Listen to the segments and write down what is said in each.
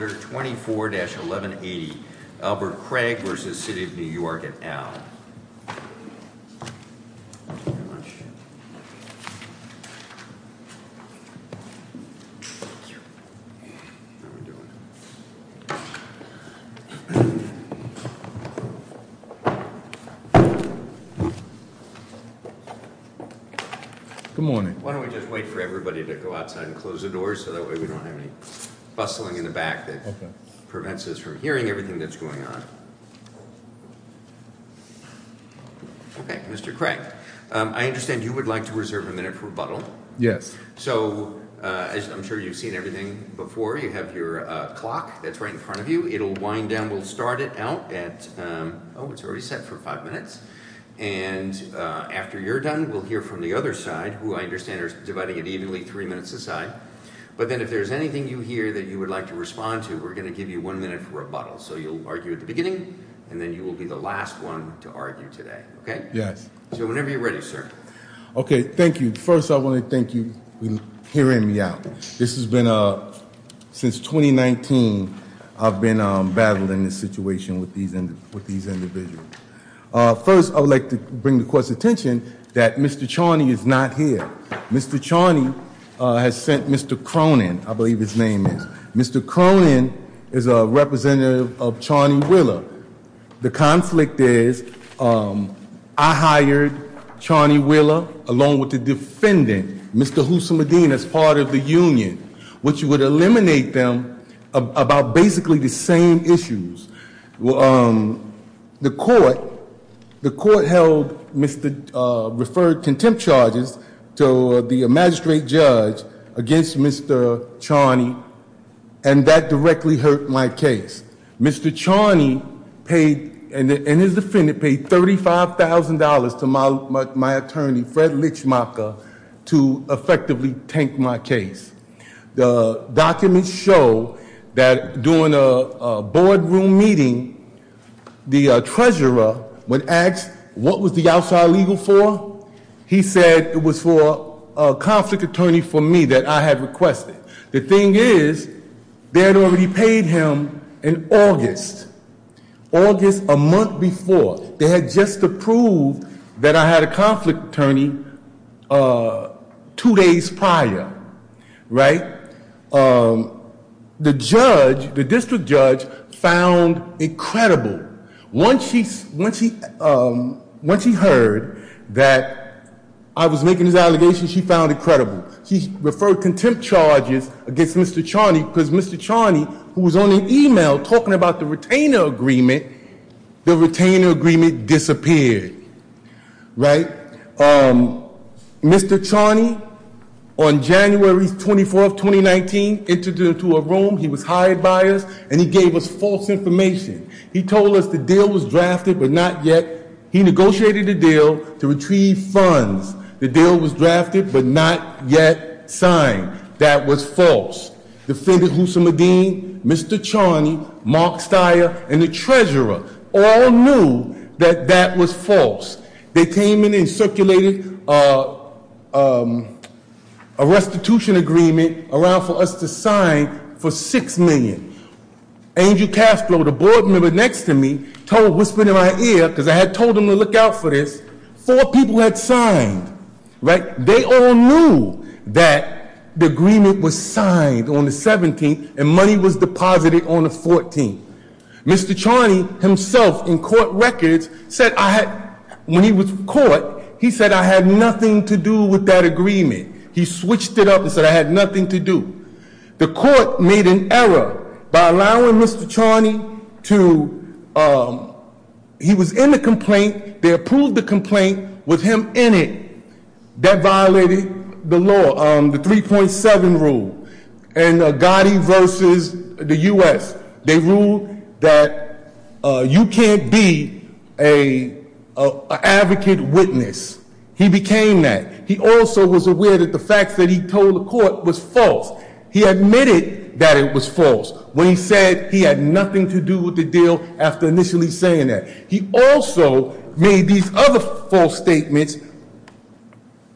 24-1180, Albert Craig v. City of New York, et al. Thank you very much. Good morning. Why don't we just wait for everybody to go outside and close the doors so that way we don't have any bustling in the back that prevents us from hearing everything that's going on. Mr. Craig, I understand you would like to reserve a minute for rebuttal. Yes. So, I'm sure you've seen everything before. You have your clock that's right in front of you. It'll wind down. We'll start it out at, oh, it's already set for five minutes. And after you're done, we'll hear from the other side, who I understand are dividing it evenly three minutes aside. But then if there's anything you hear that you would like to respond to, we're going to give you one minute for rebuttal. So, you'll argue at the beginning, and then you will be the last one to argue today. Okay? Yes. So, whenever you're ready, sir. Okay, thank you. First, I want to thank you for hearing me out. This has been, since 2019, I've been battling this situation with these individuals. First, I would like to bring the court's attention that Mr. Charney is not here. Mr. Charney has sent Mr. Cronin, I believe his name is. Mr. Cronin is a representative of Charney-Wheeler. The conflict is, I hired Charney-Wheeler along with the defendant, Mr. Husam-Medina, as part of the union, which would eliminate them about basically the same issues. The court held Mr., referred contempt charges to the magistrate judge against Mr. Charney, and that directly hurt my case. Mr. Charney paid, and his defendant paid $35,000 to my attorney, Fred Lichmacher, to effectively tank my case. The documents show that during a boardroom meeting, the treasurer, when asked what was the outside legal for, he said it was for a conflict attorney for me that I had requested. The thing is, they had already paid him in August. August, a month before. They had just approved that I had a conflict attorney two days prior, right? The judge, the district judge, found it credible. Once he heard that I was making this allegation, she found it credible. She referred contempt charges against Mr. Charney, because Mr. Charney, who was on the email talking about the retainer agreement, the retainer agreement disappeared, right? Mr. Charney, on January 24th, 2019, entered into a room. He was hired by us, and he gave us false information. He told us the deal was drafted, but not yet. He negotiated a deal to retrieve funds. The deal was drafted, but not yet signed. That was false. Defendant Hussamadeen, Mr. Charney, Mark Steyer, and the treasurer all knew that that was false. They came in and circulated a restitution agreement around for us to sign for 6 million. Angel Castro, the board member next to me, told, whispered in my ear, because I had told him to look out for this. Four people had signed, right? They all knew that the agreement was signed on the 17th, and money was deposited on the 14th. Mr. Charney himself, in court records, said I had, when he was caught, he said I had nothing to do with that agreement. He switched it up and said I had nothing to do. The court made an error by allowing Mr. Charney to, he was in the complaint. They approved the complaint with him in it. That violated the law, the 3.7 rule. In Agati versus the U.S., they ruled that you can't be an advocate witness. He became that. He also was aware that the facts that he told the court was false. He admitted that it was false when he said he had nothing to do with the deal after initially saying that. He also made these other false statements.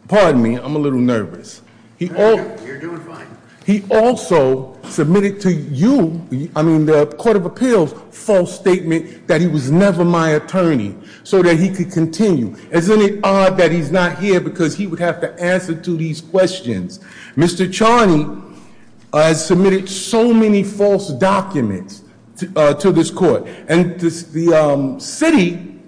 Pardon me, I'm a little nervous. He also submitted to you, I mean the Court of Appeals, false statement that he was never my attorney so that he could continue. Isn't it odd that he's not here because he would have to answer to these questions? Mr. Charney has submitted so many false documents to this court. And the city,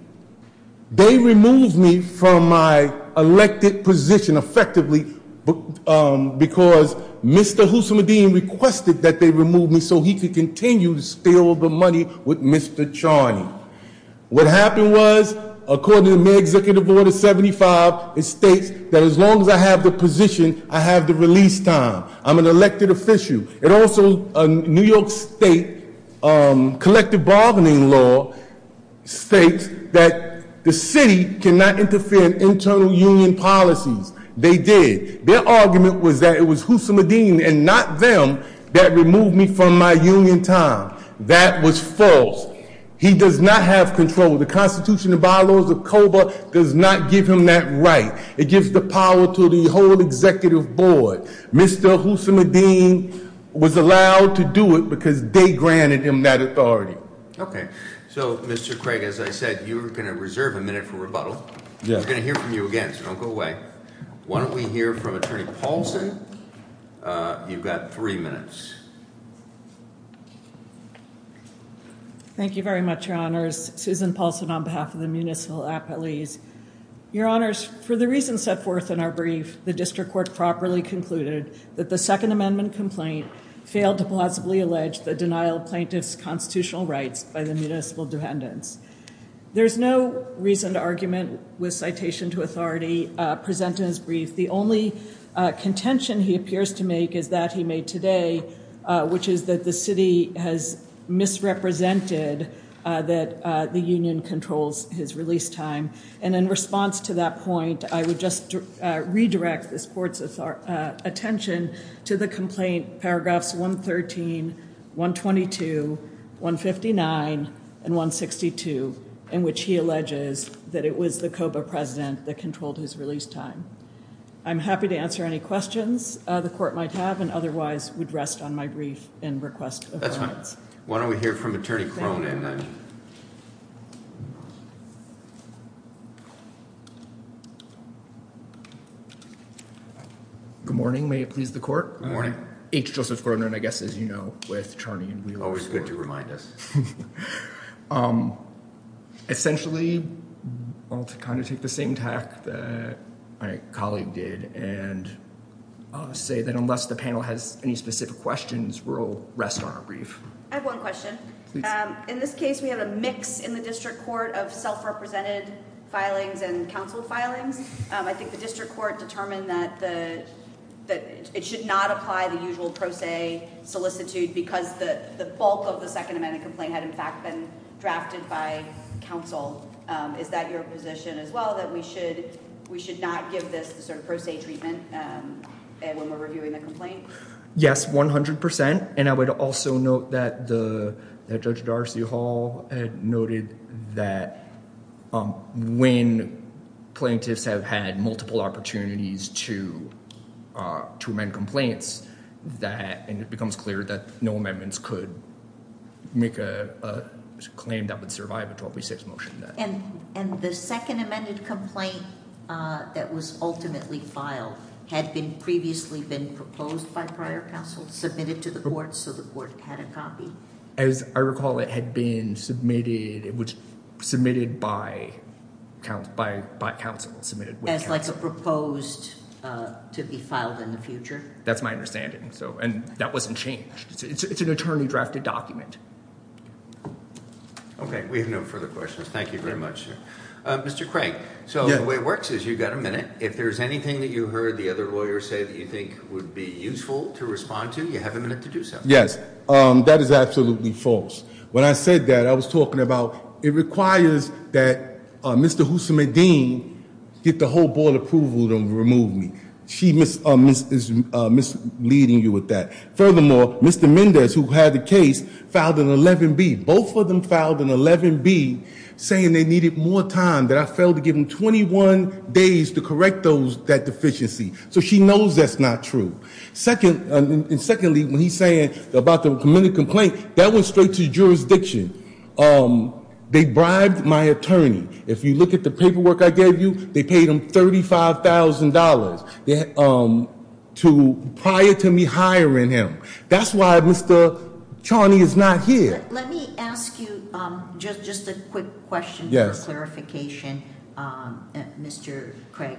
they removed me from my elected position effectively because Mr. Husamadeen requested that they remove me so he could continue to steal the money with Mr. Charney. What happened was, according to the May Executive Order 75, it states that as long as I have the position, I have the release time. I'm an elected official. And also, a New York State collective bargaining law states that the city cannot interfere in internal union policies. They did. Their argument was that it was Husamadeen and not them that removed me from my union time. That was false. He does not have control. The Constitution of our laws of COBA does not give him that right. It gives the power to the whole executive board. Mr. Husamadeen was allowed to do it because they granted him that authority. Okay. So, Mr. Craig, as I said, you are going to reserve a minute for rebuttal. I'm going to hear from you again, so don't go away. Why don't we hear from Attorney Paulson? You've got three minutes. Thank you very much, Your Honors. Susan Paulson on behalf of the Municipal Appellees. Your Honors, for the reasons set forth in our brief, the district court properly concluded that the Second Amendment complaint failed to plausibly allege the denial of plaintiffs' constitutional rights by the municipal dependents. There's no reason to argument with citation to authority presented in this brief. The only contention he appears to make is that he made today, which is that the city has misrepresented that the union controls his release time. And in response to that point, I would just redirect this court's attention to the complaint, paragraphs 113, 122, 159, and 162, in which he alleges that it was the COBA president that controlled his release time. I'm happy to answer any questions the court might have and otherwise would rest on my brief and request of comments. That's fine. Why don't we hear from Attorney Cronin. Good morning. May it please the court? H. Joseph Cronin, I guess, as you know, with Charney and Wheeler. Always good to remind us. Essentially, I'll kind of take the same tack that my colleague did and say that unless the panel has any specific questions, we'll rest on our brief. I have one question. In this case, we have a mix in the district court of self-represented filings and counsel filings. I think the district court determined that it should not apply the usual pro se solicitude because the bulk of the Second Amendment complaint had, in fact, been drafted by counsel. Is that your position as well, that we should not give this sort of pro se treatment when we're reviewing the complaint? Yes, 100 percent. And I would also note that Judge Darcy Hall had noted that when plaintiffs have had multiple opportunities to amend complaints, and it becomes clear that no amendments could make a claim that would survive a 1236 motion. And the Second Amendment complaint that was ultimately filed had previously been proposed by prior counsel, submitted to the court, so the court had a copy? As I recall, it had been submitted by counsel. As a proposed to be filed in the future? That's my understanding. And that wasn't changed. It's an attorney-drafted document. Okay, we have no further questions. Thank you very much. Mr. Craig, so the way it works is you've got a minute. If there's anything that you heard the other lawyer say that you think would be useful to respond to, you have a minute to do so. Yes, that is absolutely false. When I said that, I was talking about it requires that Mr. Husam-Edin get the whole board approval to remove me. She is misleading you with that. Furthermore, Mr. Mendez, who had the case, filed an 11B. Both of them filed an 11B saying they needed more time, that I failed to give them 21 days to correct that deficiency. So she knows that's not true. And secondly, when he's saying about the amended complaint, that went straight to jurisdiction. They bribed my attorney. If you look at the paperwork I gave you, they paid him $35,000 prior to me hiring him. That's why Mr. Charney is not here. Let me ask you just a quick question for clarification, Mr. Craig.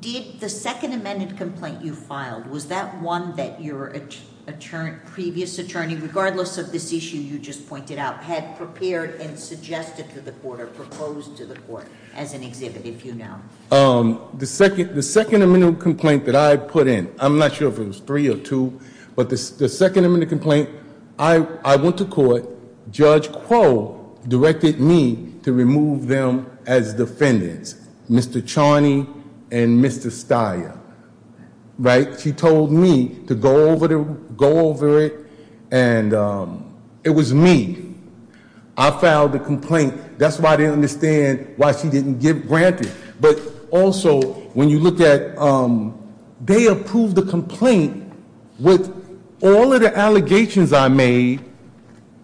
Did the second amended complaint you filed, was that one that your previous attorney, regardless of this issue you just pointed out, had prepared and suggested to the court or proposed to the court as an exhibit, if you know? The second amended complaint that I put in, I'm not sure if it was three or two. But the second amended complaint, I went to court. Judge Crowe directed me to remove them as defendants, Mr. Charney and Mr. Steyer, right? She told me to go over it, and it was me. I filed the complaint. That's why I didn't understand why she didn't grant it. But also, when you look at, they approved the complaint with all of the allegations I made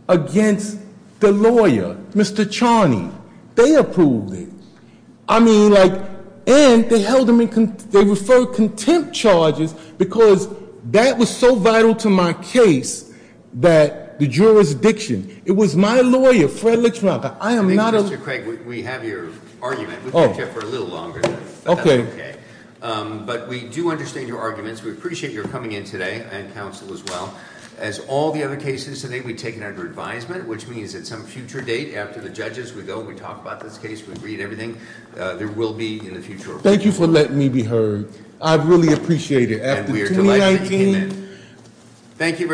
against the lawyer, Mr. Charney. They approved it. I mean, and they referred contempt charges, because that was so vital to my case that the jurisdiction. It was my lawyer, Fred Litchfielder. I am not a- Mr. Craig, we have your argument. We've been here for a little longer, but that's okay. But we do understand your arguments. We appreciate your coming in today, and counsel as well. As all the other cases today, we take it under advisement, which means at some future date, after the judges, we go, we talk about this case, we read everything. There will be in the future- Thank you for letting me be heard. I really appreciate it. After 2019- And we are delighted you came in. Thank you very-